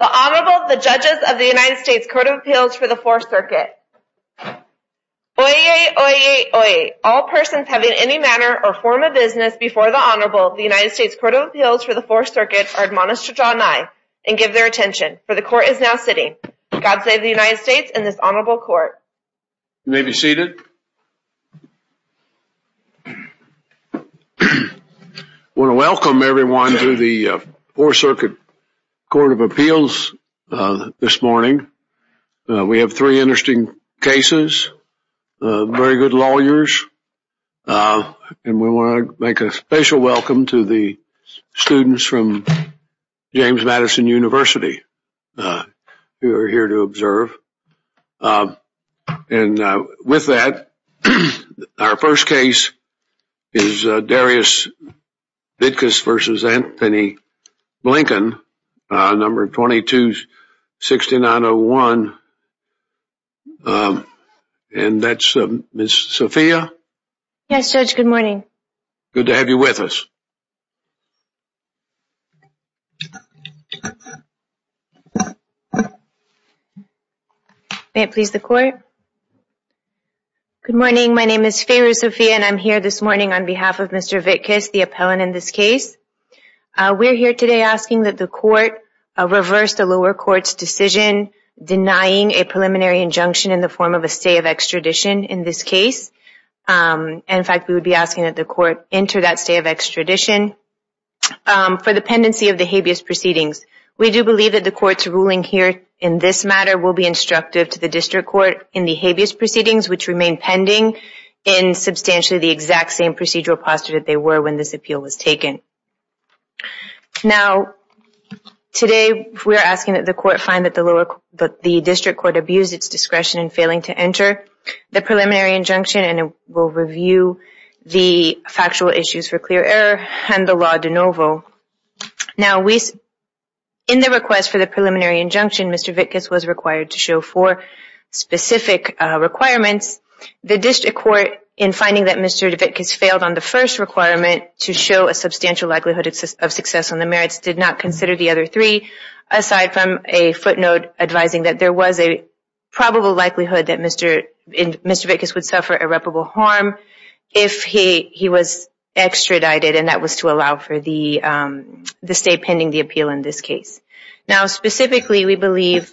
The Honorable, the Judges of the United States Court of Appeals for the Fourth Circuit. Oyez, oyez, oyez, all persons having any manner or form of business before the Honorable of the United States Court of Appeals for the Fourth Circuit are admonished to draw nigh and give their attention, for the Court is now sitting. God save the United States and this Honorable Court. You may be seated. I want to welcome everyone to the Fourth Circuit Court of Appeals this morning. We have three interesting cases, very good lawyers, and we want to make a special welcome to the students from James Madison University who are here to observe. And with that, our first case is Darius Vitkus v. Antony Blinken, number 226901, and that's Ms. Sophia. Yes, Judge, good morning. Good to have you with us. May it please the Court. Good morning. My name is Feru Sophia, and I'm here this morning on behalf of Mr. Vitkus, the appellant in this case. We're here today asking that the Court reverse the lower court's decision denying a preliminary injunction in the form of a stay of extradition in this case. In fact, we would be asking that the Court enter that stay of extradition for the pendency of the habeas proceedings. We do believe that the Court's ruling here in this matter will be instructive to the District Court in the habeas proceedings, which remain pending in substantially the exact same procedural posture that they were when this appeal was taken. Now, today we are asking that the Court find that the District Court abused its discretion in failing to enter the preliminary injunction and will review the factual issues for clear error and the law de novo. Now, in the request for the preliminary injunction, Mr. Vitkus was required to show four specific requirements. The District Court, in finding that Mr. Vitkus failed on the first requirement, to show a substantial likelihood of success on the merits, did not consider the other three, aside from a footnote advising that there was a probable likelihood that Mr. Vitkus would suffer irreparable harm if he was extradited, and that was to allow for the stay pending the appeal in this case. Now, specifically, we believe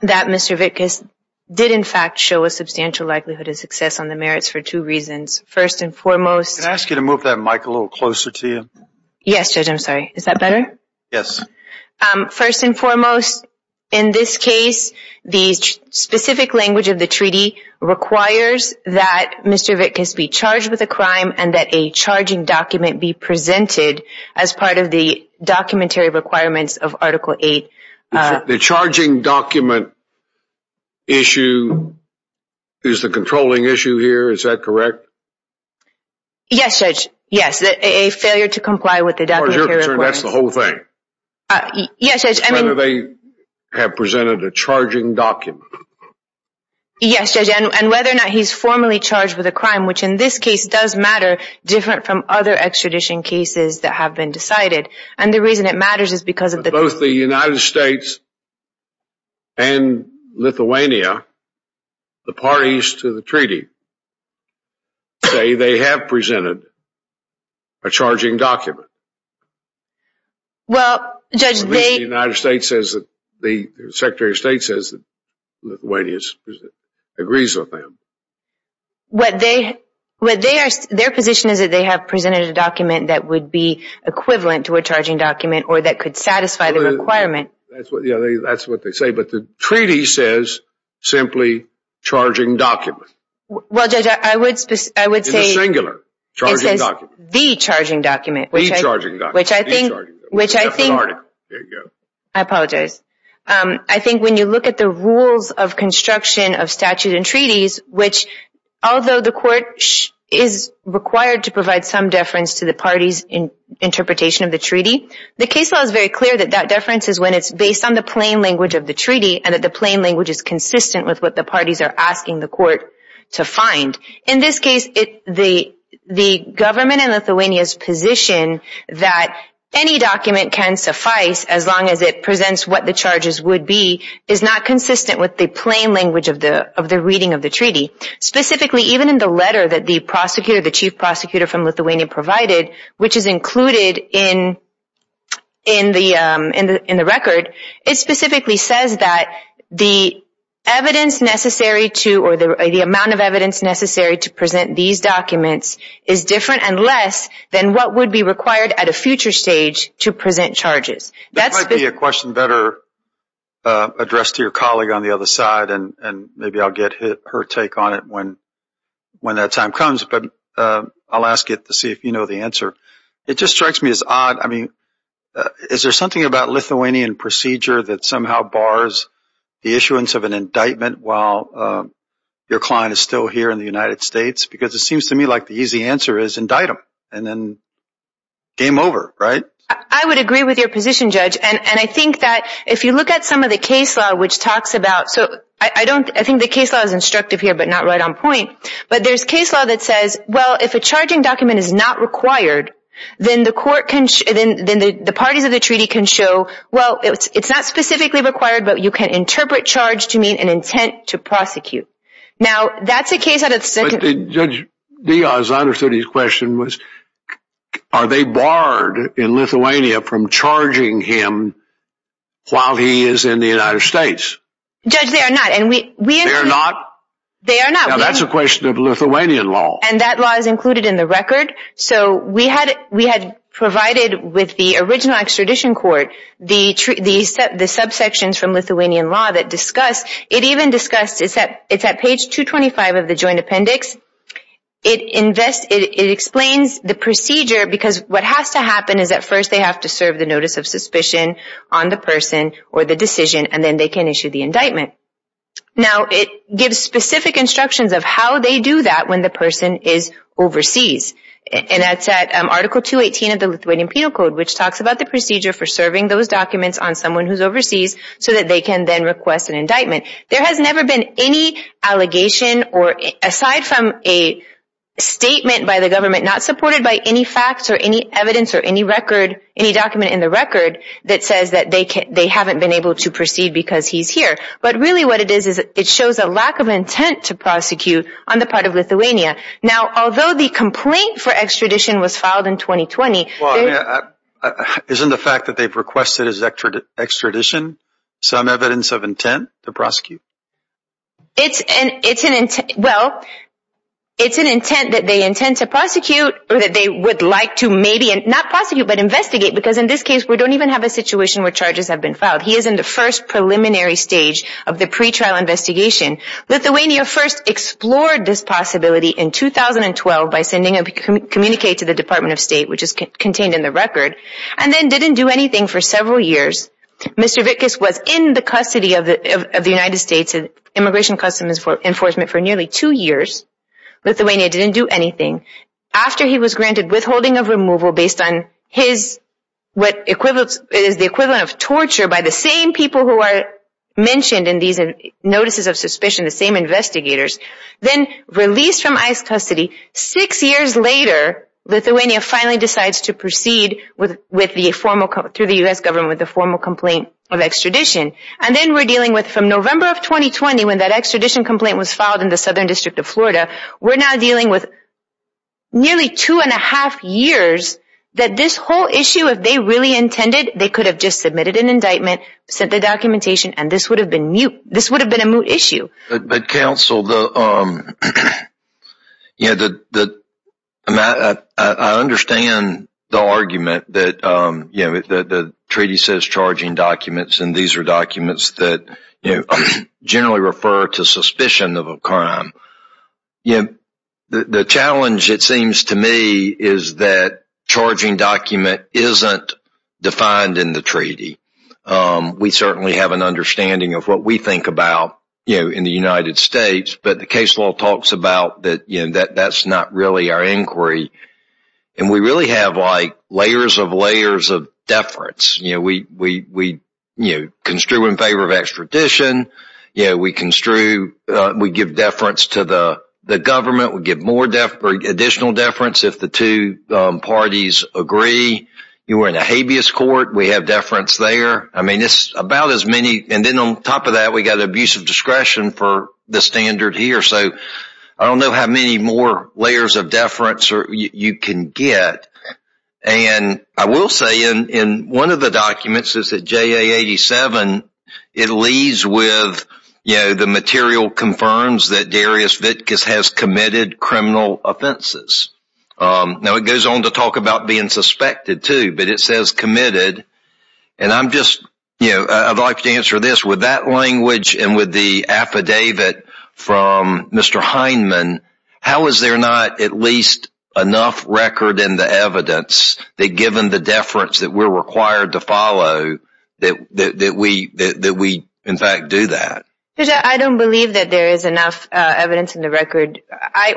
that Mr. Vitkus did, in fact, show a substantial likelihood of success on the merits for two reasons. First and foremost... Can I ask you to move that mic a little closer to you? Yes, Judge, I'm sorry. Is that better? Yes. First and foremost, in this case, the specific language of the treaty requires that Mr. Vitkus be charged with a crime and that a charging document be presented as part of the documentary requirements of Article 8. The charging document issue is the controlling issue here, is that correct? Yes, Judge. Yes, a failure to comply with the documentary requirements. That's the whole thing. Yes, Judge. Whether they have presented a charging document. Yes, Judge, and whether or not he's formally charged with a crime, which in this case does matter, different from other extradition cases that have been decided, and the reason it matters is because of the... The United States and Lithuania, the parties to the treaty, say they have presented a charging document. Well, Judge, they... The Secretary of State says that Lithuania agrees with them. Their position is that they have presented a document that would be equivalent to a charging document or that could satisfy the requirement. That's what they say, but the treaty says simply, charging document. Well, Judge, I would say... In the singular, charging document. It says the charging document. The charging document. Which I think... Which I think... There you go. I apologize. I think when you look at the rules of construction of statute and treaties, which although the court is required to provide some deference to the party's interpretation of the treaty, the case law is very clear that that deference is when it's based on the plain language of the treaty and that the plain language is consistent with what the parties are asking the court to find. In this case, the government in Lithuania's position that any document can suffice as long as it presents what the charges would be is not consistent with the plain language of the reading of the treaty. Specifically, even in the letter that the prosecutor, the chief prosecutor from Lithuania provided, which is included in the record, it specifically says that the evidence necessary to or the amount of evidence necessary to present these documents is different and less than what would be required at a future stage to present charges. That might be a question better addressed to your colleague on the other side, and maybe I'll get her take on it when that time comes. But I'll ask it to see if you know the answer. It just strikes me as odd. I mean, is there something about Lithuanian procedure that somehow bars the issuance of an indictment while your client is still here in the United States? Because it seems to me like the easy answer is indict him and then game over, right? I would agree with your position, Judge. And I think that if you look at some of the case law, which talks about – I think the case law is instructive here but not right on point. But there's case law that says, well, if a charging document is not required, then the parties of the treaty can show, well, it's not specifically required, but you can interpret charge to mean an intent to prosecute. Now, that's a case out of the second – Judge Diaz, I understood his question was, are they barred in Lithuania from charging him while he is in the United States? Judge, they are not. They are not? They are not. Now, that's a question of Lithuanian law. And that law is included in the record. So we had provided with the original extradition court the subsections from Lithuanian law that discuss – it's at page 225 of the joint appendix. It explains the procedure because what has to happen is, at first they have to serve the notice of suspicion on the person or the decision, and then they can issue the indictment. Now, it gives specific instructions of how they do that when the person is overseas. And that's at Article 218 of the Lithuanian Penal Code, so that they can then request an indictment. There has never been any allegation or – aside from a statement by the government not supported by any facts or any evidence or any record – any document in the record that says that they haven't been able to proceed because he's here. But really what it is is it shows a lack of intent to prosecute on the part of Lithuania. Now, although the complaint for extradition was filed in 2020 – Isn't the fact that they've requested his extradition some evidence of intent to prosecute? It's an – well, it's an intent that they intend to prosecute or that they would like to maybe – not prosecute, but investigate, because in this case we don't even have a situation where charges have been filed. He is in the first preliminary stage of the pretrial investigation. Lithuania first explored this possibility in 2012 by sending a communique to the Department of State, which is contained in the record, and then didn't do anything for several years. Mr. Vitkus was in the custody of the United States Immigration Customs Enforcement for nearly two years. Lithuania didn't do anything. After he was granted withholding of removal based on his – what is the equivalent of torture by the same people who are mentioned in these notices of suspicion, the same investigators, then released from ICE custody. Six years later, Lithuania finally decides to proceed with the formal – through the U.S. government with the formal complaint of extradition. And then we're dealing with, from November of 2020, when that extradition complaint was filed in the Southern District of Florida, we're now dealing with nearly two and a half years that this whole issue, if they really intended, they could have just submitted an indictment, sent the documentation, and this would have been – this would have been a moot issue. But, Counsel, I understand the argument that the treaty says charging documents, and these are documents that generally refer to suspicion of a crime. The challenge, it seems to me, is that charging document isn't defined in the treaty. We certainly have an understanding of what we think about in the United States, but the case law talks about that that's not really our inquiry. And we really have layers of layers of deference. We construe in favor of extradition. We construe – we give deference to the government. We give more additional deference if the two parties agree. You were in a habeas court. We have deference there. I mean, it's about as many – and then on top of that, we've got abusive discretion for the standard here. So I don't know how many more layers of deference you can get. And I will say in one of the documents, it's at JA 87, it leaves with, you know, the material confirms that Darius Vitkus has committed criminal offenses. Now, it goes on to talk about being suspected too, but it says committed. And I'm just – you know, I'd like to answer this. With that language and with the affidavit from Mr. Heineman, how is there not at least enough record in the evidence that given the deference that we're required to follow, that we in fact do that? I don't believe that there is enough evidence in the record.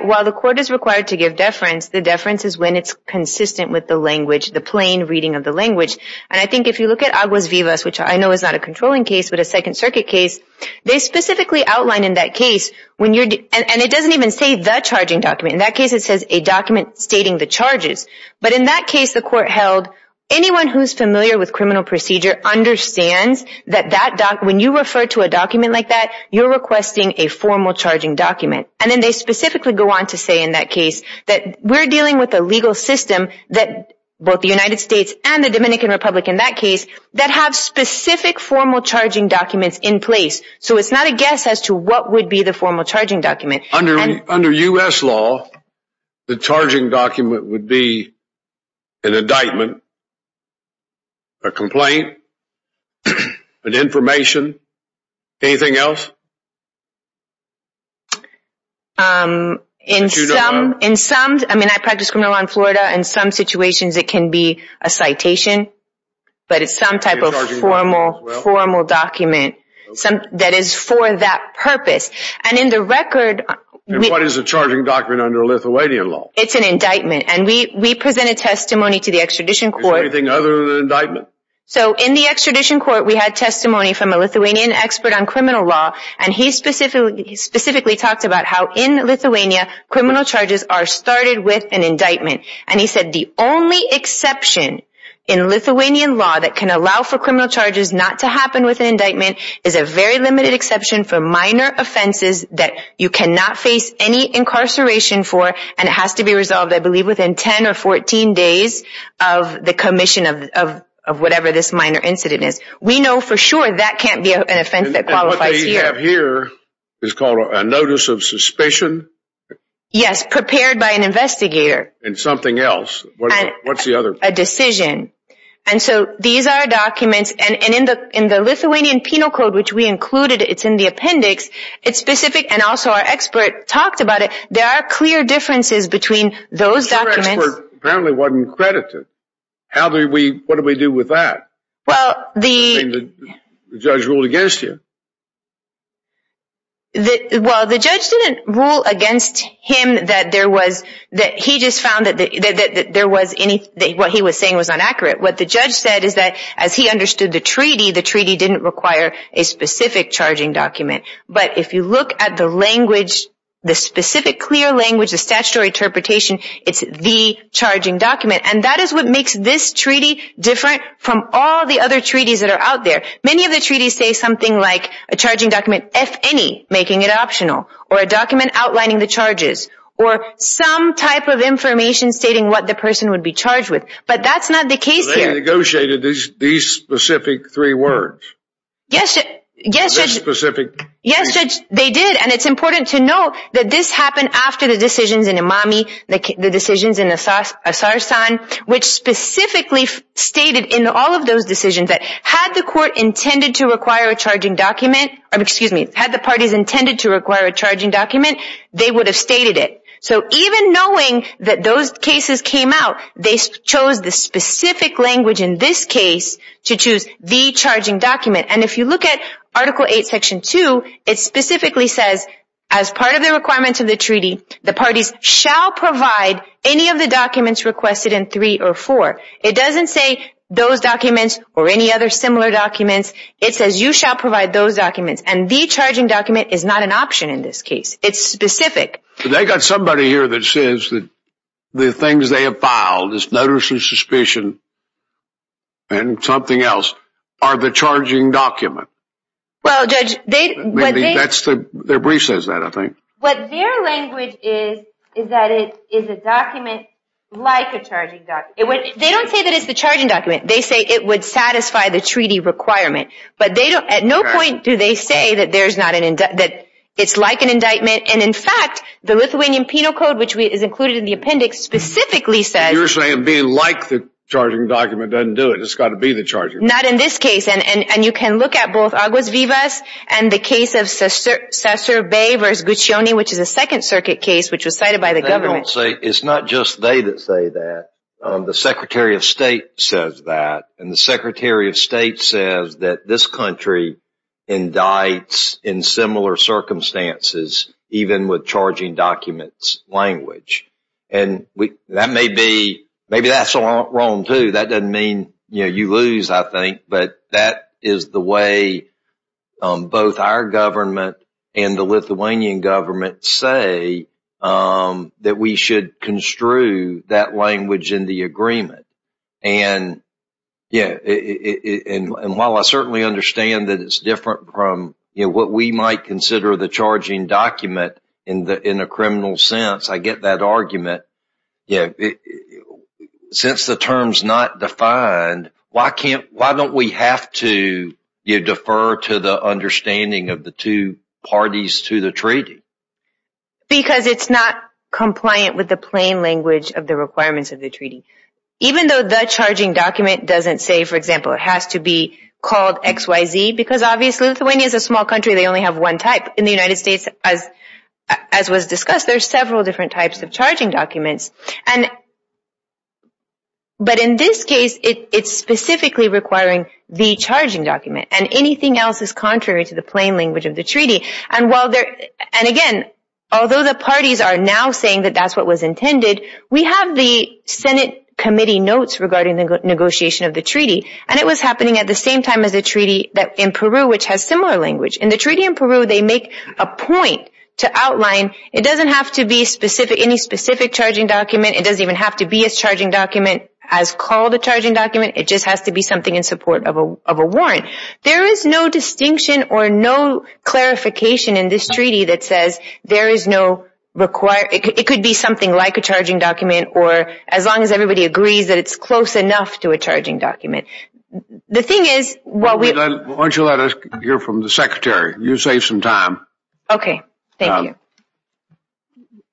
While the court is required to give deference, the deference is when it's consistent with the language, the plain reading of the language. And I think if you look at Aguas Vivas, which I know is not a controlling case but a Second Circuit case, they specifically outline in that case when you're – and it doesn't even say the charging document. In that case, it says a document stating the charges. But in that case, the court held anyone who's familiar with criminal procedure understands that that – when you refer to a document like that, you're requesting a formal charging document. And then they specifically go on to say in that case that we're dealing with a legal system that both the United States and the Dominican Republic in that case that have specific formal charging documents in place. So it's not a guess as to what would be the formal charging document. Under U.S. law, the charging document would be an indictment, a complaint, an information. Anything else? In some – I mean, I practice criminal law in Florida. In some situations, it can be a citation. But it's some type of formal document that is for that purpose. And in the record – And what is a charging document under Lithuanian law? It's an indictment. And we presented testimony to the extradition court. Is there anything other than an indictment? So in the extradition court, we had testimony from a Lithuanian expert on criminal law. And he specifically talked about how in Lithuania, criminal charges are started with an indictment. And he said the only exception in Lithuanian law that can allow for criminal charges not to happen with an indictment is a very limited exception for minor offenses that you cannot face any incarceration for. And it has to be resolved, I believe, within 10 or 14 days of the commission of whatever this minor incident is. We know for sure that can't be an offense that qualifies here. And what they have here is called a notice of suspicion. Yes, prepared by an investigator. And something else. What's the other – A decision. And so these are documents. And in the Lithuanian Penal Code, which we included, it's in the appendix, it's specific. And also our expert talked about it. There are clear differences between those documents. Your expert apparently wasn't credited. How do we – what do we do with that? Well, the – The judge ruled against you. Well, the judge didn't rule against him that there was – that he just found that there was – what he was saying was inaccurate. What the judge said is that as he understood the treaty, the treaty didn't require a specific charging document. But if you look at the language, the specific clear language, the statutory interpretation, it's the charging document. And that is what makes this treaty different from all the other treaties that are out there. Many of the treaties say something like a charging document, if any, making it optional. Or a document outlining the charges. Or some type of information stating what the person would be charged with. But that's not the case here. They negotiated these specific three words. Yes, Judge – This specific – Yes, Judge, they did. And it's important to note that this happened after the decisions in Imami, the decisions in Asar San, which specifically stated in all of those decisions that had the court intended to require a charging document – excuse me, had the parties intended to require a charging document, they would have stated it. So even knowing that those cases came out, they chose the specific language in this case to choose the charging document. And if you look at Article 8, Section 2, it specifically says, as part of the requirements of the treaty, the parties shall provide any of the documents requested in 3 or 4. It doesn't say those documents or any other similar documents. It says you shall provide those documents. And the charging document is not an option in this case. It's specific. They've got somebody here that says that the things they have filed, this notice of suspicion and something else, are the charging document. Well, Judge, they – Their brief says that, I think. What their language is, is that it is a document like a charging document. They don't say that it's the charging document. They say it would satisfy the treaty requirement. But at no point do they say that it's like an indictment. And, in fact, the Lithuanian Penal Code, which is included in the appendix, specifically says – You're saying being like the charging document doesn't do it. It's got to be the charging document. Not in this case. And you can look at both Agus Vivas and the case of Caesar Bay v. Guccione, which is a Second Circuit case which was cited by the government. It's not just they that say that. The Secretary of State says that. And the Secretary of State says that this country indicts in similar circumstances, even with charging documents language. And that may be – maybe that's wrong, too. That doesn't mean, you know, you lose, I think. But that is the way both our government and the Lithuanian government say that we should construe that language in the agreement. And, yeah, and while I certainly understand that it's different from, you know, what we might consider the charging document in a criminal sense, I get that argument. You know, since the term's not defined, why don't we have to defer to the understanding of the two parties to the treaty? Because it's not compliant with the plain language of the requirements of the treaty. Even though the charging document doesn't say, for example, it has to be called XYZ, because obviously Lithuania is a small country. They only have one type. In the United States, as was discussed, there are several different types of charging documents. But in this case, it's specifically requiring the charging document, and anything else is contrary to the plain language of the treaty. And, again, although the parties are now saying that that's what was intended, we have the Senate committee notes regarding the negotiation of the treaty. And it was happening at the same time as the treaty in Peru, which has similar language. In the treaty in Peru, they make a point to outline, it doesn't have to be any specific charging document. It doesn't even have to be a charging document as called a charging document. It just has to be something in support of a warrant. There is no distinction or no clarification in this treaty that says there is no required, it could be something like a charging document, or as long as everybody agrees that it's close enough to a charging document. The thing is, what we... Why don't you let us hear from the secretary. You save some time. Okay. Thank you.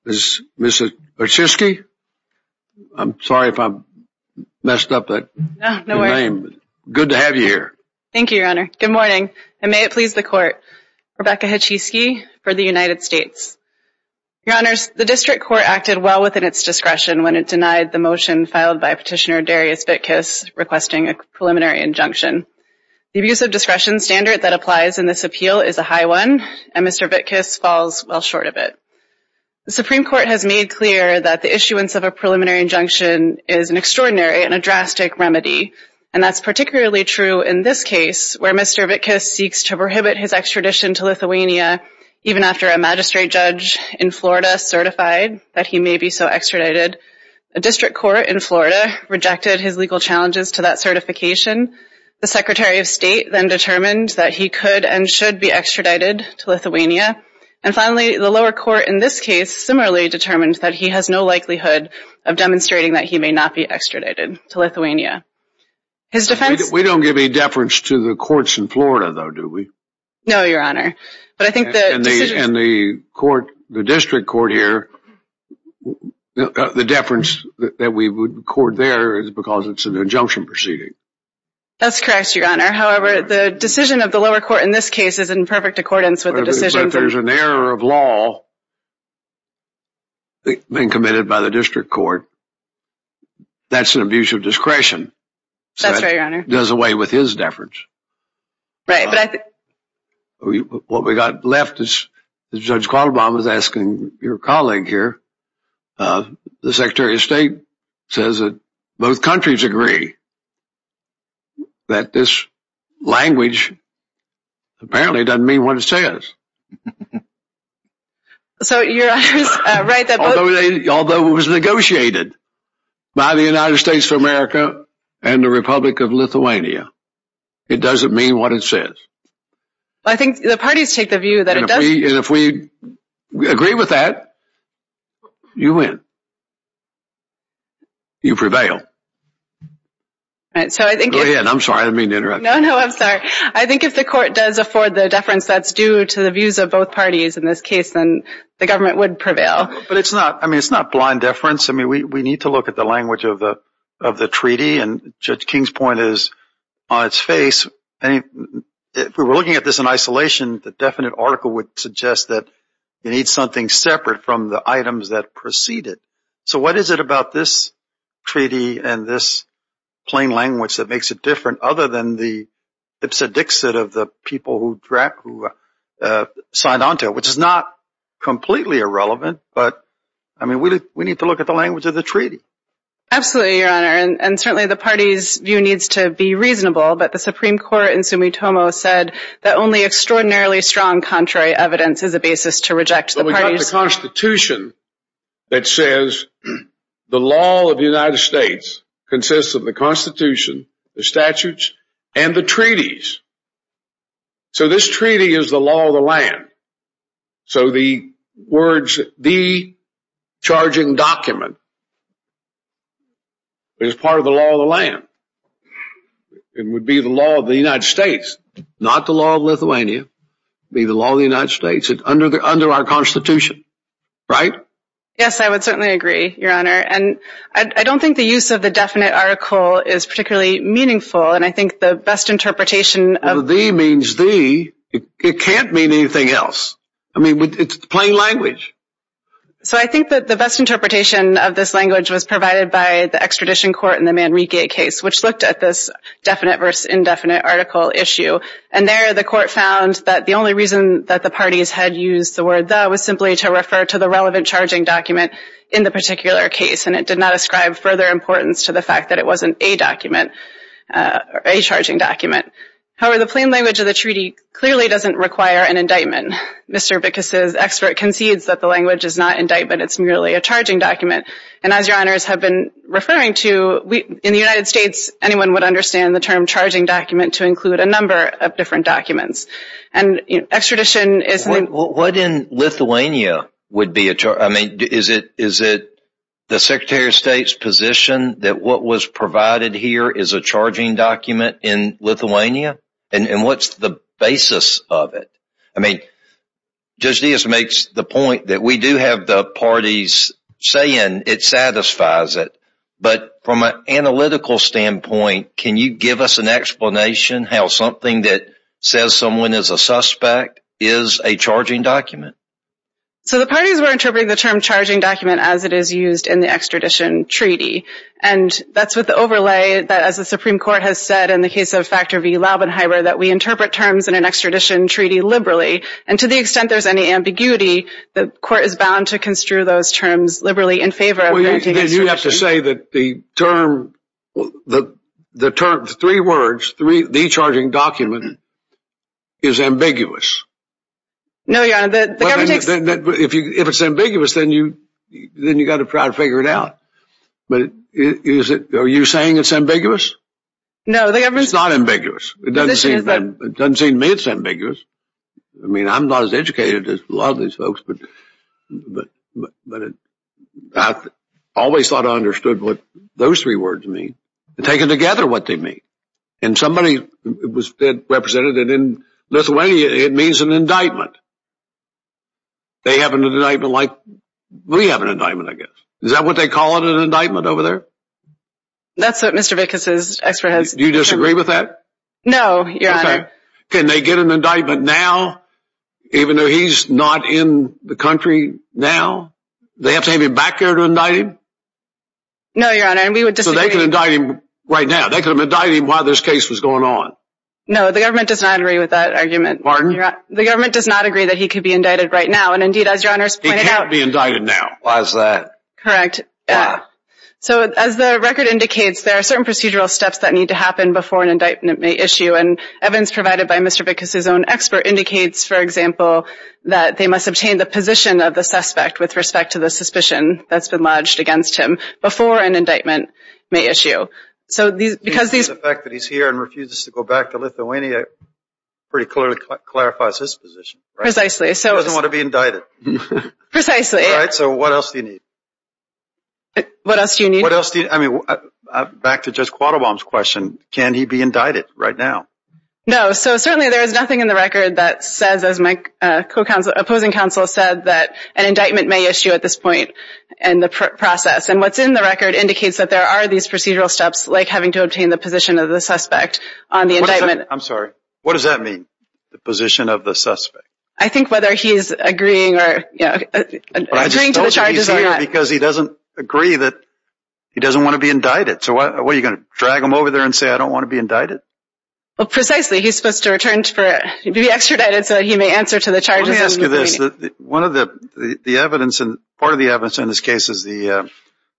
Ms. Hachisky. I'm sorry if I messed up that name. No worries. Good to have you here. Thank you, Your Honor. Good morning, and may it please the Court. Rebecca Hachisky for the United States. Your Honors, the district court acted well within its discretion when it denied the motion filed by Petitioner Darius Vitkis requesting a preliminary injunction. The abuse of discretion standard that applies in this appeal is a high one, and Mr. Vitkis falls well short of it. The Supreme Court has made clear that the issuance of a preliminary injunction is an extraordinary and a drastic remedy, and that's particularly true in this case where Mr. Vitkis seeks to prohibit his extradition to Lithuania even after a magistrate judge in Florida certified that he may be so extradited. A district court in Florida rejected his legal challenges to that certification. The Secretary of State then determined that he could and should be extradited to Lithuania. And finally, the lower court in this case similarly determined that he has no likelihood of demonstrating that he may not be extradited to Lithuania. We don't give any deference to the courts in Florida, though, do we? No, Your Honor. And the district court here, the deference that we would accord there is because it's an injunction proceeding. That's correct, Your Honor. However, the decision of the lower court in this case is in perfect accordance with the decision. But if there's an error of law being committed by the district court, that's an abuse of discretion. That's right, Your Honor. It does away with his deference. Right. What we've got left is Judge Quattlebaum is asking your colleague here. The Secretary of State says that both countries agree that this language apparently doesn't mean what it says. So, Your Honor is right. Although it was negotiated by the United States of America and the Republic of Lithuania, it doesn't mean what it says. I think the parties take the view that it does. And if we agree with that, you win. You prevail. Go ahead. I'm sorry. I didn't mean to interrupt you. No, no. I'm sorry. I think if the court does afford the deference that's due to the views of both parties in this case, then the government would prevail. But it's not blind deference. I mean, we need to look at the language of the treaty. And Judge King's point is on its face. If we were looking at this in isolation, the definite article would suggest that you need something separate from the items that precede it. So what is it about this treaty and this plain language that makes it different other than the ipsa dixit of the people who signed onto it, which is not completely irrelevant. But, I mean, we need to look at the language of the treaty. Absolutely, Your Honor. And certainly the parties' view needs to be reasonable. But the Supreme Court in Sumitomo said that only extraordinarily strong contrary evidence is a basis to reject the parties' claim. But we've got the Constitution that says the law of the United States consists of the Constitution, the statutes, and the treaties. So this treaty is the law of the land. So the words, the charging document, is part of the law of the land. It would be the law of the United States. Not the law of Lithuania. It would be the law of the United States under our Constitution. Right? Yes, I would certainly agree, Your Honor. And I don't think the use of the definite article is particularly meaningful. And I think the best interpretation of... it can't mean anything else. I mean, it's plain language. So I think that the best interpretation of this language was provided by the extradition court in the Manrique case, which looked at this definite versus indefinite article issue. And there the court found that the only reason that the parties had used the word the was simply to refer to the relevant charging document in the particular case. And it did not ascribe further importance to the fact that it wasn't a document, a charging document. However, the plain language of the treaty clearly doesn't require an indictment. Mr. Bickus' expert concedes that the language is not indictment. It's merely a charging document. And as Your Honors have been referring to, in the United States anyone would understand the term charging document to include a number of different documents. And extradition is... What in Lithuania would be a... I mean, is it the Secretary of State's position that what was provided here is a charging document in Lithuania? And what's the basis of it? I mean, Judge Dias makes the point that we do have the parties saying it satisfies it. But from an analytical standpoint, can you give us an explanation how something that says someone is a suspect is a charging document? So the parties were interpreting the term charging document as it is used in the extradition treaty. And that's with the overlay that, as the Supreme Court has said, in the case of Factor V Laubenheimer, that we interpret terms in an extradition treaty liberally. And to the extent there's any ambiguity, the court is bound to construe those terms liberally in favor of granting extradition. Well, you have to say that the term, the term, the three words, the charging document is ambiguous. No, Your Honor, the government takes... If it's ambiguous, then you've got to try to figure it out. But are you saying it's ambiguous? No, the government... It's not ambiguous. It doesn't seem to me it's ambiguous. I mean, I'm not as educated as a lot of these folks, but I always thought I understood what those three words mean. They take together what they mean. And somebody represented in Lithuania, it means an indictment. They have an indictment like we have an indictment, I guess. Is that what they call it, an indictment over there? That's what Mr. Vickas' expert has... Do you disagree with that? No, Your Honor. Okay. Can they get an indictment now, even though he's not in the country now? They have to have him back there to indict him? No, Your Honor, and we would disagree... So they could indict him right now. They could indict him while this case was going on. No, the government does not agree with that argument. Pardon? The government does not agree that he could be indicted right now. And, indeed, as Your Honor has pointed out... He can't be indicted now. Why is that? Correct. So as the record indicates, there are certain procedural steps that need to happen before an indictment may issue. And evidence provided by Mr. Vickas' own expert indicates, for example, that they must obtain the position of the suspect with respect to the suspicion that's been lodged against him before an indictment may issue. So because these... The fact that he's here and refuses to go back to Lithuania pretty clearly clarifies his position. Precisely. He doesn't want to be indicted. Precisely. All right. So what else do you need? What else do you need? What else do you need? I mean, back to Judge Quattlebaum's question, can he be indicted right now? No. So certainly there is nothing in the record that says, as my opposing counsel said, that an indictment may issue at this point in the process. And what's in the record indicates that there are these procedural steps, like having to obtain the position of the suspect on the indictment. I'm sorry. What does that mean, the position of the suspect? I think whether he's agreeing or... I just told you he's here because he doesn't agree that he doesn't want to be indicted. So what, are you going to drag him over there and say, I don't want to be indicted? Precisely. He's supposed to be extradited so that he may answer to the charges of Lithuania. Let me ask you this. Part of the evidence in this case is the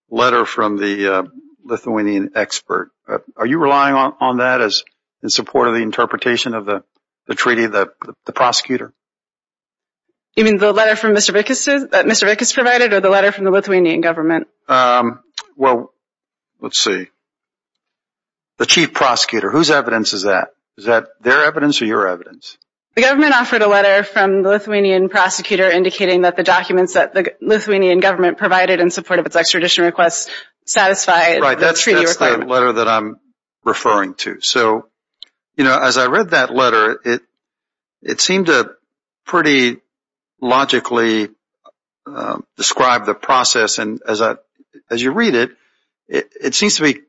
letter from the Lithuanian expert. Are you relying on that in support of the interpretation of the treaty, the prosecutor? You mean the letter from Mr. Vickis that Mr. Vickis provided or the letter from the Lithuanian government? Well, let's see. The chief prosecutor, whose evidence is that? Is that their evidence or your evidence? The government offered a letter from the Lithuanian prosecutor indicating that the documents that the Lithuanian government provided in support of its extradition request satisfied the treaty requirement. That's the letter that I'm referring to. So, you know, as I read that letter, it seemed to pretty logically describe the process. And as you read it, it seems to be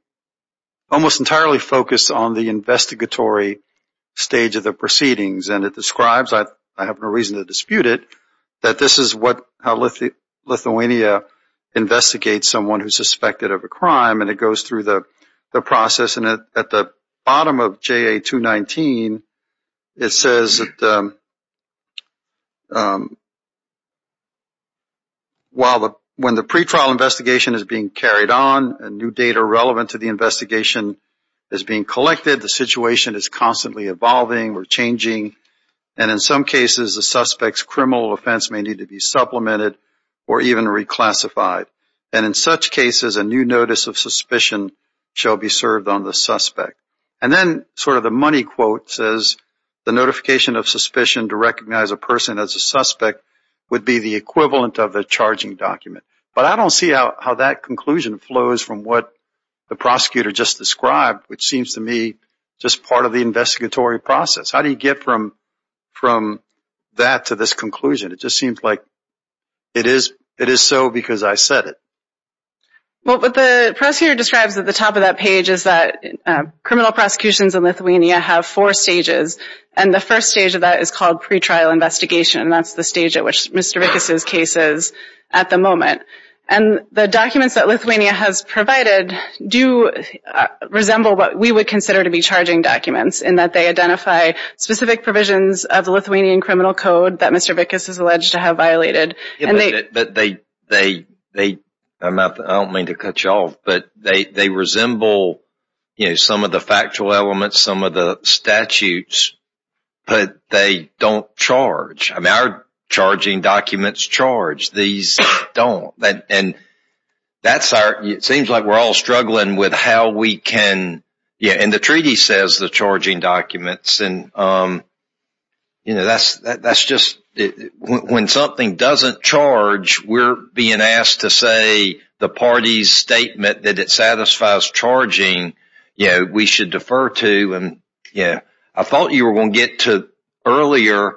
almost entirely focused on the investigatory stage of the proceedings. And it describes, I have no reason to dispute it, that this is how Lithuania investigates someone who's suspected of a crime. And it goes through the process. And at the bottom of JA 219, it says that when the pretrial investigation is being carried on and new data relevant to the investigation is being collected, the situation is constantly evolving or changing. And in some cases, the suspect's criminal offense may need to be supplemented or even reclassified. And in such cases, a new notice of suspicion shall be served on the suspect. And then sort of the money quote says the notification of suspicion to recognize a person as a suspect would be the equivalent of a charging document. But I don't see how that conclusion flows from what the prosecutor just described, which seems to me just part of the investigatory process. How do you get from that to this conclusion? It just seems like it is so because I said it. Well, what the prosecutor describes at the top of that page is that criminal prosecutions in Lithuania have four stages, and the first stage of that is called pretrial investigation. And that's the stage at which Mr. Vickas' case is at the moment. And the documents that Lithuania has provided do resemble what we would consider to be charging documents in that they identify specific provisions of the Lithuanian criminal code that Mr. Vickas is alleged to have violated. I don't mean to cut you off, but they resemble some of the factual elements, some of the statutes, but they don't charge. Our charging documents charge. These don't. It seems like we're all struggling with how we can—and the treaty says the charging documents. When something doesn't charge, we're being asked to say the party's statement that it satisfies charging. We should defer to—I thought you were going to get to earlier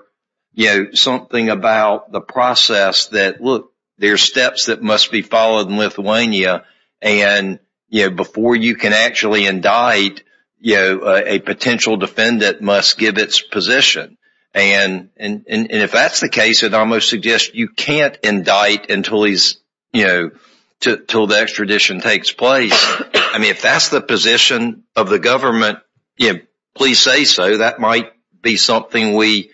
something about the process that, look, there are steps that must be followed in Lithuania, and before you can actually indict, a potential defendant must give its position. And if that's the case, it almost suggests you can't indict until the extradition takes place. I mean, if that's the position of the government, please say so. That might be something we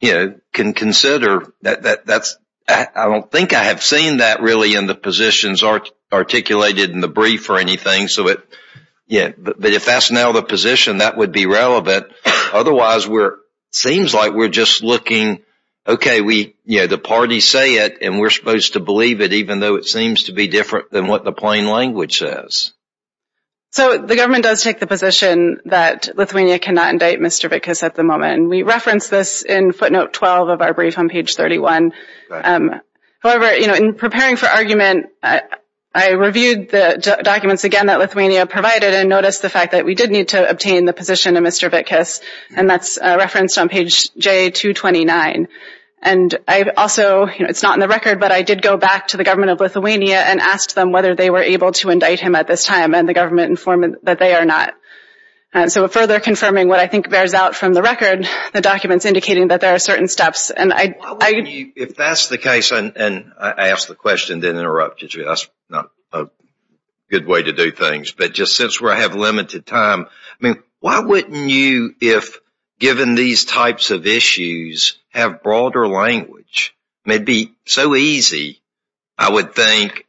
can consider. I don't think I have seen that really in the positions articulated in the brief or anything. But if that's now the position, that would be relevant. Otherwise, it seems like we're just looking, okay, the parties say it, and we're supposed to believe it, even though it seems to be different than what the plain language says. So the government does take the position that Lithuania cannot indict Mr. Vickas at the moment. We reference this in footnote 12 of our brief on page 31. However, in preparing for argument, I reviewed the documents again that Lithuania provided and noticed the fact that we did need to obtain the position of Mr. Vickas, and that's referenced on page J229. And I also—it's not in the record, but I did go back to the government of Lithuania and asked them whether they were able to indict him at this time, and the government informed that they are not. So further confirming what I think bears out from the record, the documents indicating that there are certain steps. And I— If that's the case—and I asked the question, didn't interrupt you. That's not a good way to do things. But just since we have limited time, I mean, why wouldn't you, if given these types of issues, have broader language? I mean, it'd be so easy, I would think,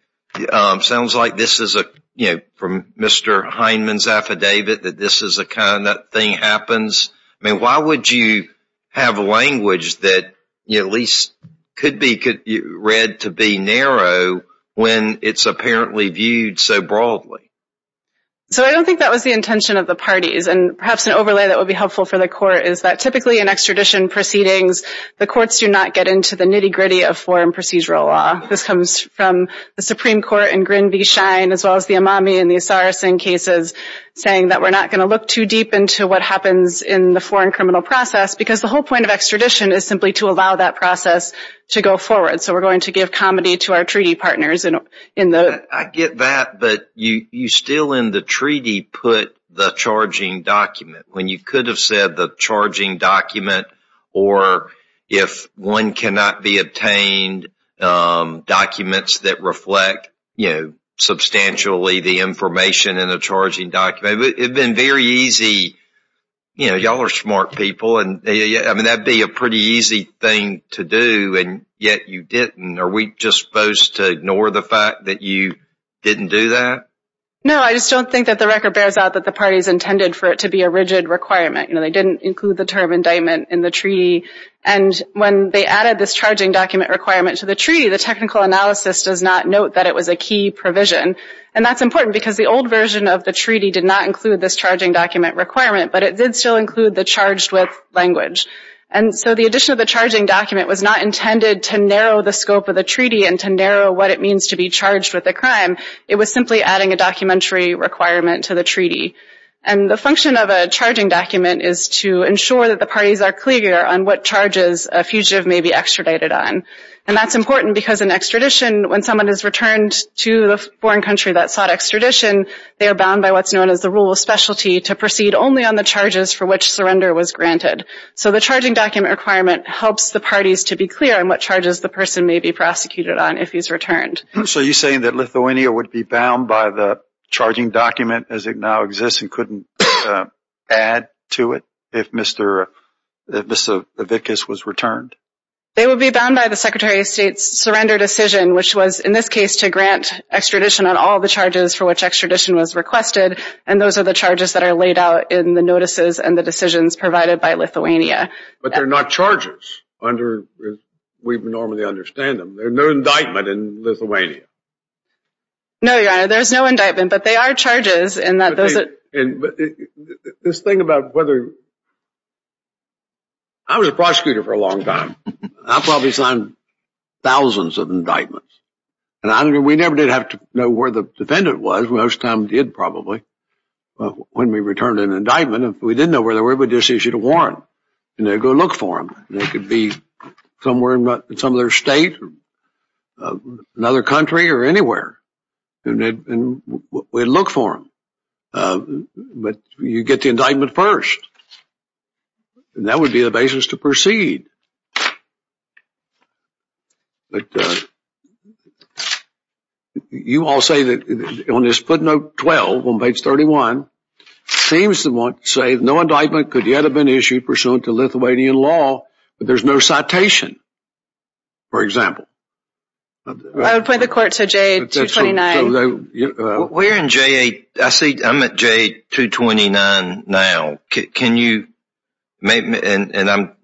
sounds like this is a, you know, from Mr. Heinemann's affidavit that this is a kind of thing happens. I mean, why would you have language that, you know, at least could be read to be narrow when it's apparently viewed so broadly? So I don't think that was the intention of the parties. And perhaps an overlay that would be helpful for the court is that typically in extradition proceedings, the courts do not get into the nitty-gritty of foreign procedural law. This comes from the Supreme Court in Grinby, Cheyne, as well as the Amami and the Osiris in cases, saying that we're not going to look too deep into what happens in the foreign criminal process because the whole point of extradition is simply to allow that process to go forward. So we're going to give comedy to our treaty partners in the— I get that, but you still in the treaty put the charging document. When you could have said the charging document or if one cannot be obtained documents that reflect, you know, substantially the information in the charging document, it would have been very easy. You know, y'all are smart people, and I mean, that would be a pretty easy thing to do, and yet you didn't. Are we just supposed to ignore the fact that you didn't do that? No, I just don't think that the record bears out that the parties intended for it to be a rigid requirement. You know, they didn't include the term indictment in the treaty, and when they added this charging document requirement to the treaty, the technical analysis does not note that it was a key provision, and that's important because the old version of the treaty did not include this charging document requirement, but it did still include the charged with language. And so the addition of the charging document was not intended to narrow the scope of the treaty and to narrow what it means to be charged with a crime. It was simply adding a documentary requirement to the treaty. And the function of a charging document is to ensure that the parties are clear on what charges a fugitive may be extradited on. And that's important because in extradition, when someone is returned to the foreign country that sought extradition, they are bound by what's known as the rule of specialty to proceed only on the charges for which surrender was granted. So the charging document requirement helps the parties to be clear on what charges the person may be prosecuted on if he's returned. So you're saying that Lithuania would be bound by the charging document as it now exists and couldn't add to it if Mr. Vickis was returned? They would be bound by the Secretary of State's surrender decision, which was in this case to grant extradition on all the charges for which extradition was requested, and those are the charges that are laid out in the notices and the decisions provided by Lithuania. But they're not charges under – we normally understand them. There's no indictment in Lithuania. No, Your Honor, there's no indictment, but they are charges in that those are – But this thing about whether – I was a prosecutor for a long time. I probably signed thousands of indictments, and we never did have to know where the defendant was. Most of the time we did probably. But when we returned an indictment, if we didn't know where they were, we'd just issue a warrant, and they'd go look for them. They could be somewhere in some other state, another country, or anywhere, and we'd look for them. But you get the indictment first, and that would be the basis to proceed. But you all say that on this footnote 12 on page 31, it seems to say no indictment could yet have been issued pursuant to Lithuanian law, but there's no citation, for example. I would point the court to J229. We're in J – I see – I'm at J229 now. Can you – and I'm –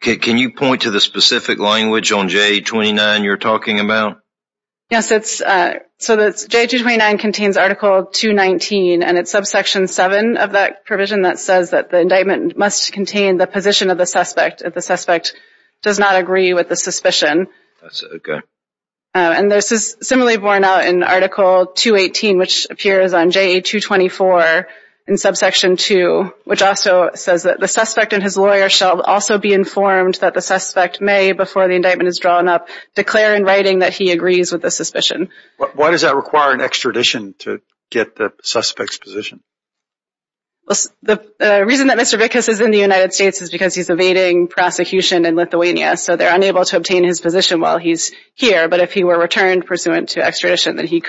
can you point to the specific language on J229 you're talking about? Yes, it's – so J229 contains Article 219, and it's subsection 7 of that provision that says that the indictment must contain the position of the suspect if the suspect does not agree with the suspicion. And this is similarly borne out in Article 218, which appears on J224 in subsection 2, which also says that the suspect and his lawyer shall also be informed that the suspect may, before the indictment is drawn up, declare in writing that he agrees with the suspicion. Why does that require an extradition to get the suspect's position? The reason that Mr. Vickas is in the United States is because he's evading prosecution in Lithuania, so they're unable to obtain his position while he's here. But if he were returned pursuant to extradition, then he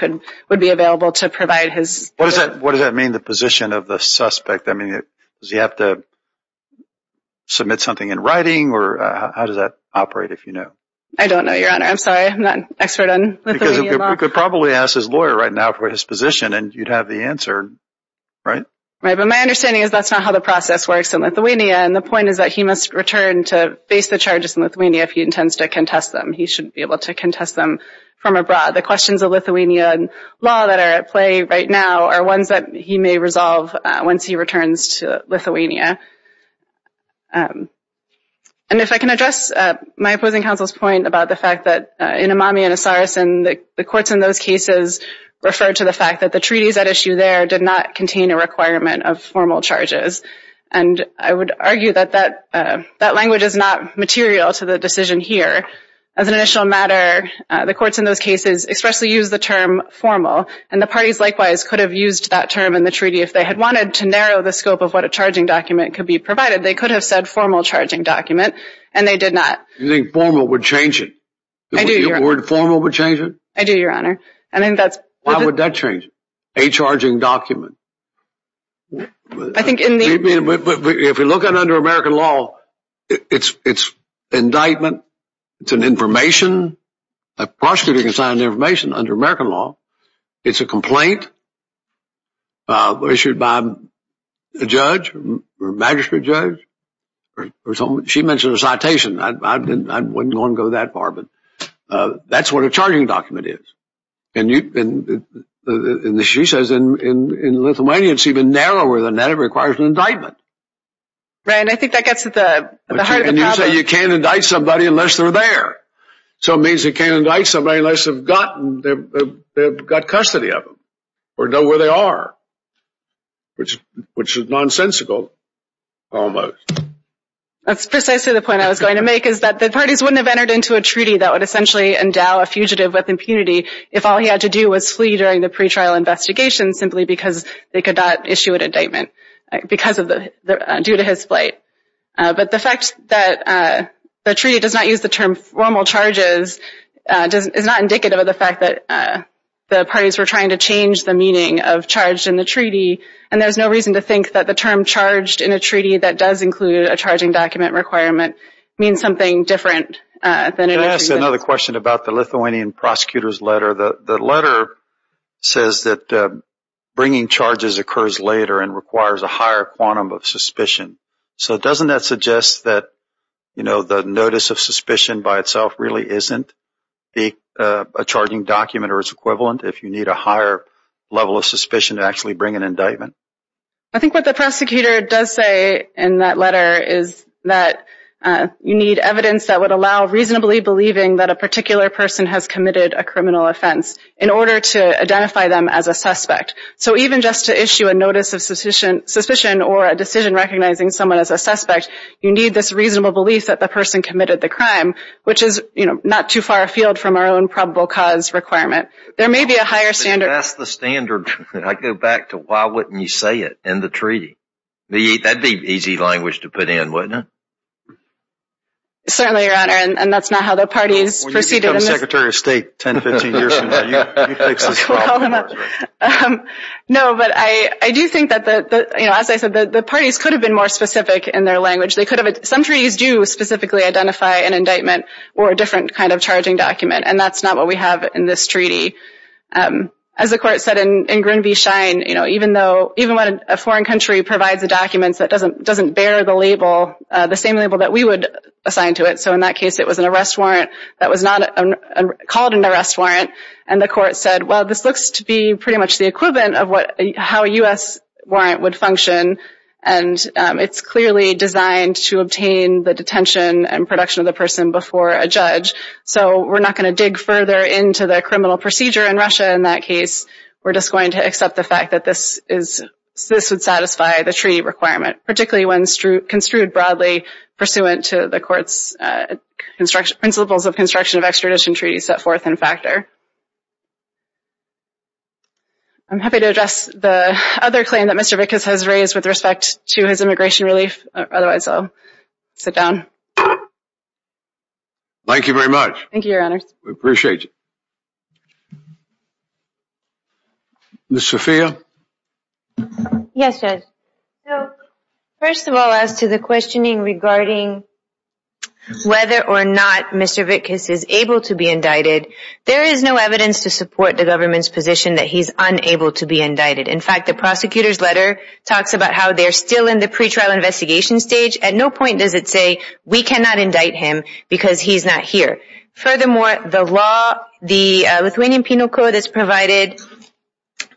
would be available to provide his – What does that mean, the position of the suspect? I mean, does he have to submit something in writing, or how does that operate, if you know? I don't know, Your Honor. I'm sorry. I'm not an expert on Lithuanian law. Because he could probably ask his lawyer right now for his position, and you'd have the answer, right? Right, but my understanding is that's not how the process works in Lithuania, and the point is that he must return to face the charges in Lithuania if he intends to contest them. He shouldn't be able to contest them from abroad. The questions of Lithuanian law that are at play right now are ones that he may resolve once he returns to Lithuania. And if I can address my opposing counsel's point about the fact that in Imami and Asarisin, the courts in those cases referred to the fact that the treaties at issue there did not contain a requirement of formal charges. And I would argue that that language is not material to the decision here. As an initial matter, the courts in those cases expressly used the term formal, and the parties likewise could have used that term in the treaty if they had wanted to narrow the scope of what a charging document could be provided. They could have said formal charging document, and they did not. You think formal would change it? I do, Your Honor. You think the word formal would change it? I do, Your Honor. Why would that change it? A charging document. I think in the… If you look at it under American law, it's indictment. It's an information. A prosecutor can sign information under American law. It's a complaint issued by a judge or a magistrate judge. She mentioned a citation. I wouldn't want to go that far, but that's what a charging document is. And she says in Lithuania, it's even narrower than that. It requires an indictment. Ryan, I think that gets to the heart of the problem. You say you can't indict somebody unless they're there. So it means you can't indict somebody unless they've got custody of them or know where they are, which is nonsensical almost. That's precisely the point I was going to make is that the parties wouldn't have entered into a treaty that would essentially endow a fugitive with impunity if all he had to do was flee during the pretrial investigation simply because they could not issue an indictment due to his flight. But the fact that the treaty does not use the term formal charges is not indicative of the fact that the parties were trying to change the meaning of charged in the treaty. And there's no reason to think that the term charged in a treaty that does include a charging document requirement means something different than it actually does. Can I ask another question about the Lithuanian prosecutor's letter? The letter says that bringing charges occurs later and requires a higher quantum of suspicion. So doesn't that suggest that the notice of suspicion by itself really isn't a charging document or its equivalent if you need a higher level of suspicion to actually bring an indictment? I think what the prosecutor does say in that letter is that you need evidence that would allow reasonably believing that a particular person has committed a criminal offense in order to identify them as a suspect. So even just to issue a notice of suspicion or a decision recognizing someone as a suspect, you need this reasonable belief that the person committed the crime, which is not too far afield from our own probable cause requirement. There may be a higher standard. That's the standard. I go back to why wouldn't you say it in the treaty? That'd be easy language to put in, wouldn't it? Certainly, Your Honor, and that's not how the parties proceeded. When you become Secretary of State 10, 15 years from now, you fix this problem for us. No, but I do think that, as I said, the parties could have been more specific in their language. Some treaties do specifically identify an indictment or a different kind of charging document, and that's not what we have in this treaty. As the Court said in Grunby Shine, even when a foreign country provides a document that doesn't bear the label, the same label that we would assign to it. So in that case, it was an arrest warrant that was called an arrest warrant, and the Court said, well, this looks to be pretty much the equivalent of how a U.S. warrant would function, and it's clearly designed to obtain the detention and production of the person before a judge. So we're not going to dig further into the criminal procedure in Russia in that case. We're just going to accept the fact that this would satisfy the treaty requirement, particularly when construed broadly pursuant to the Court's principles of construction of extradition treaties set forth in Factor. I'm happy to address the other claim that Mr. Vickas has raised with respect to his immigration relief. Otherwise, I'll sit down. Thank you, Your Honor. We appreciate you. Ms. Sofia? Yes, Judge. First of all, as to the questioning regarding whether or not Mr. Vickas is able to be indicted, there is no evidence to support the government's position that he's unable to be indicted. In fact, the prosecutor's letter talks about how they're still in the pretrial investigation stage. At no point does it say, we cannot indict him because he's not here. Furthermore, the Lithuanian Penal Code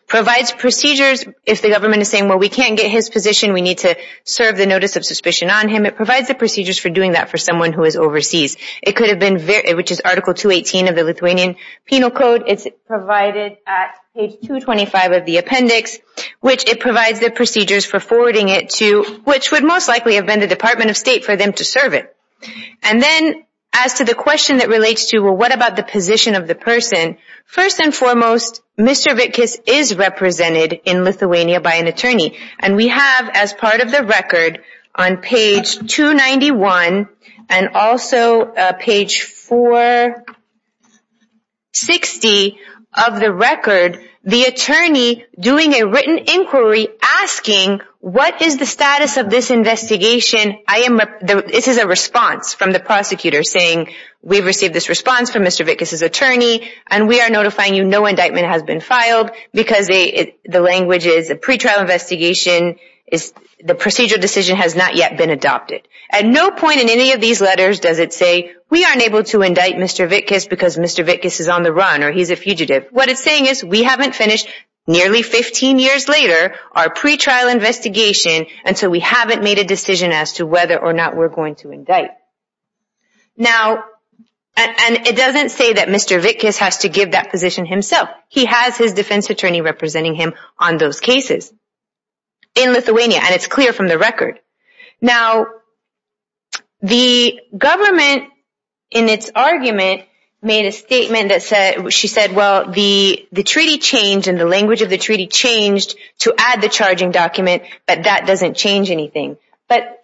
provides procedures if the government is saying, well, we can't get his position, we need to serve the notice of suspicion on him. It provides the procedures for doing that for someone who is overseas, which is Article 218 of the Lithuanian Penal Code. It's provided at page 225 of the appendix, which it provides the procedures for forwarding it to, which would most likely have been the Department of State, for them to serve it. And then, as to the question that relates to, well, what about the position of the person, first and foremost, Mr. Vickas is represented in Lithuania by an attorney. And we have, as part of the record, on page 291 and also page 460 of the record, the attorney doing a written inquiry asking, what is the status of this investigation? This is a response from the prosecutor saying, we've received this response from Mr. Vickas' attorney, and we are notifying you no indictment has been filed, because the language is a pretrial investigation, the procedural decision has not yet been adopted. At no point in any of these letters does it say, we aren't able to indict Mr. Vickas because Mr. Vickas is on the run, or he's a fugitive. What it's saying is, we haven't finished, nearly 15 years later, our pretrial investigation, and so we haven't made a decision as to whether or not we're going to indict. Now, and it doesn't say that Mr. Vickas has to give that position himself. He has his defense attorney representing him on those cases in Lithuania, and it's clear from the record. Now, the government, in its argument, made a statement that said, well, the treaty changed, and the language of the treaty changed to add the charging document, but that doesn't change anything. But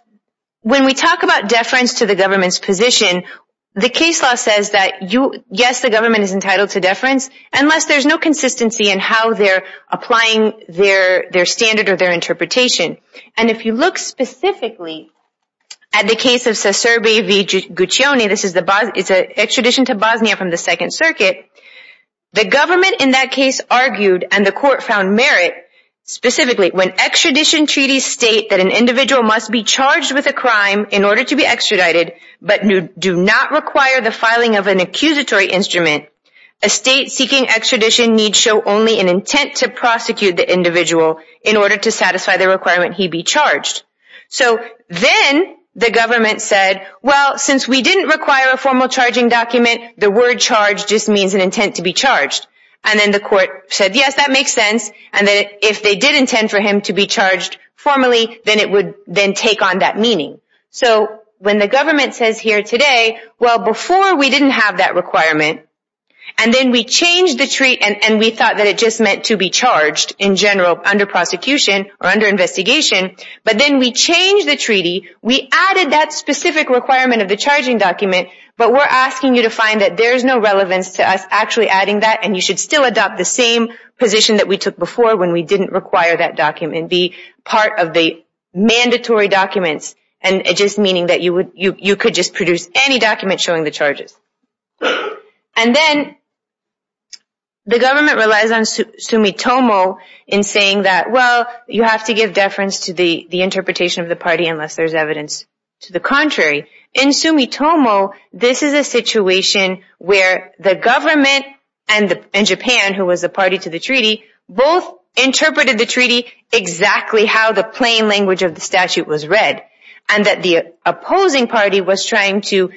when we talk about deference to the government's position, the case law says that, yes, the government is entitled to deference, unless there's no consistency in how they're applying their standard or their interpretation. And if you look specifically at the case of Sesebe V. Guccione, it's an extradition to Bosnia from the Second Circuit, the government in that case argued, and the court found merit, specifically, when extradition treaties state that an individual must be charged with a crime in order to be extradited, but do not require the filing of an accusatory instrument, a state seeking extradition needs show only an intent to prosecute the individual in order to satisfy the requirement he be charged. So then the government said, well, since we didn't require a formal charging document, the word charge just means an intent to be charged. And then the court said, yes, that makes sense, and that if they did intend for him to be charged formally, then it would then take on that meaning. So when the government says here today, well, before we didn't have that requirement, and then we changed the treaty and we thought that it just meant to be charged in general under prosecution or under investigation, but then we changed the treaty, we added that specific requirement of the charging document, but we're asking you to find that there's no relevance to us actually adding that, and you should still adopt the same position that we took before when we didn't require that document, be part of the mandatory documents, and just meaning that you could just produce any document showing the charges. And then the government relies on sumitomo in saying that, well, you have to give deference to the interpretation of the party unless there's evidence to the contrary. In sumitomo, this is a situation where the government and Japan, who was the party to the treaty, both interpreted the treaty exactly how the plain language of the statute was read, and that the opposing party was trying to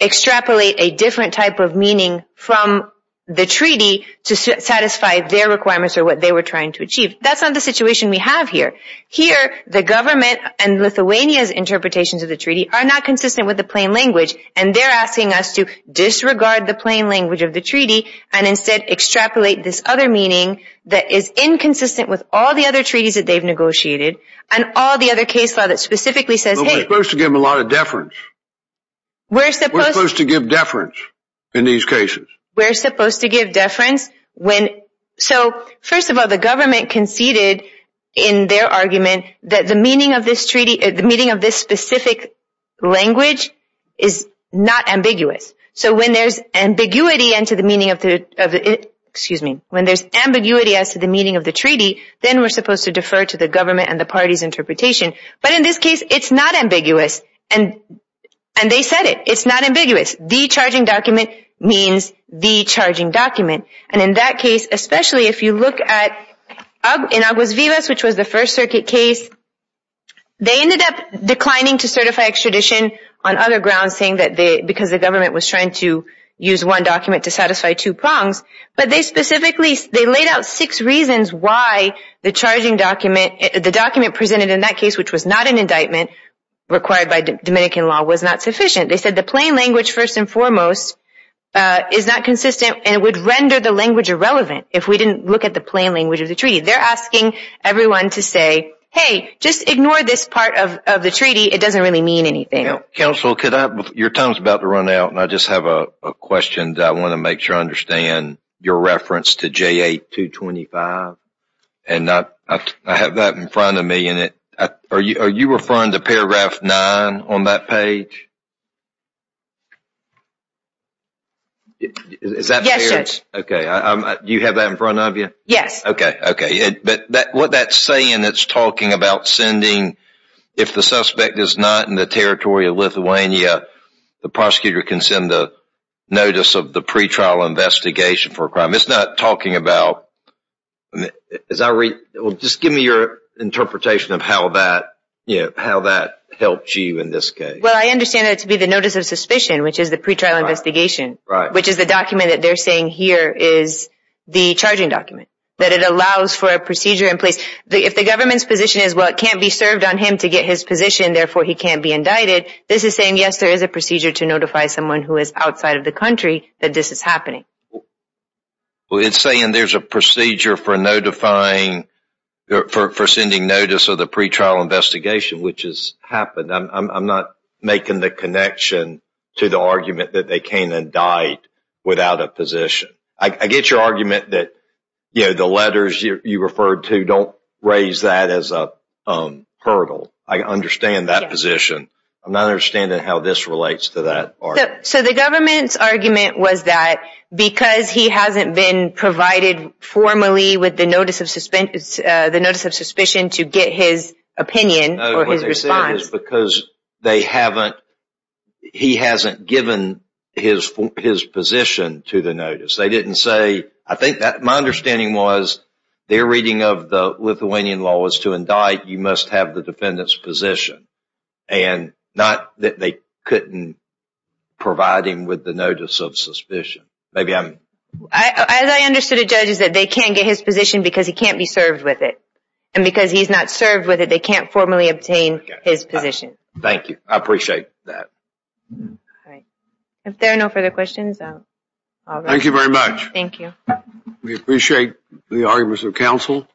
extrapolate a different type of meaning from the treaty to satisfy their requirements or what they were trying to achieve. That's not the situation we have here. Here, the government and Lithuania's interpretations of the treaty are not consistent with the plain language, and they're asking us to disregard the plain language of the treaty and instead extrapolate this other meaning that is inconsistent with all the other treaties that they've negotiated and all the other case law that specifically says, hey... Well, we're supposed to give them a lot of deference. We're supposed... We're supposed to give deference in these cases. We're supposed to give deference when... So, first of all, the government conceded in their argument that the meaning of this treaty, the meaning of this specific language is not ambiguous. So when there's ambiguity as to the meaning of the treaty, then we're supposed to defer to the government and the party's interpretation. But in this case, it's not ambiguous. And they said it. It's not ambiguous. The charging document means the charging document. And in that case, especially if you look at Aguas Vivas, which was the First Circuit case, they ended up declining to certify extradition on other grounds, saying that because the government was trying to use one document to satisfy two prongs. But they specifically... They laid out six reasons why the charging document... The document presented in that case, which was not an indictment required by Dominican law, was not sufficient. They said the plain language, first and foremost, is not consistent and would render the language irrelevant if we didn't look at the plain language of the treaty. They're asking everyone to say, hey, just ignore this part of the treaty. It doesn't really mean anything. Counsel, your time is about to run out, and I just have a question that I want to make sure I understand. Your reference to JA 225, and I have that in front of me. Are you referring to paragraph 9 on that page? Yes, sir. Okay. Do you have that in front of you? Yes. Okay. Okay. What that's saying, it's talking about sending... If the suspect is not in the territory of Lithuania, the prosecutor can send a notice of the pretrial investigation for a crime. It's not talking about... Just give me your interpretation of how that helps you in this case. Well, I understand that to be the notice of suspicion, which is the pretrial investigation, which is the document that they're saying here is the charging document, that it allows for a procedure in place. If the government's position is, well, it can't be served on him to get his position, therefore he can't be indicted, this is saying, yes, there is a procedure to notify someone who is outside of the country that this is happening. Well, it's saying there's a procedure for sending notice of the pretrial investigation, which has happened. I'm not making the connection to the argument that they can't indict without a position. I get your argument that the letters you referred to don't raise that as a hurdle. I understand that position. I'm not understanding how this relates to that argument. So the government's argument was that because he hasn't been provided formally with the notice of suspicion to get his opinion or his response... Yes. ...is because they haven't, he hasn't given his position to the notice. They didn't say, I think my understanding was their reading of the Lithuanian law was to indict, you must have the defendant's position, and not that they couldn't provide him with the notice of suspicion. Maybe I'm... As I understood it, Judge, is that they can't get his position because he can't be served with it. And because he's not served with it, they can't formally obtain his position. Thank you. I appreciate that. All right. If there are no further questions, I'll go. Thank you very much. Thank you. We appreciate the arguments of counsel.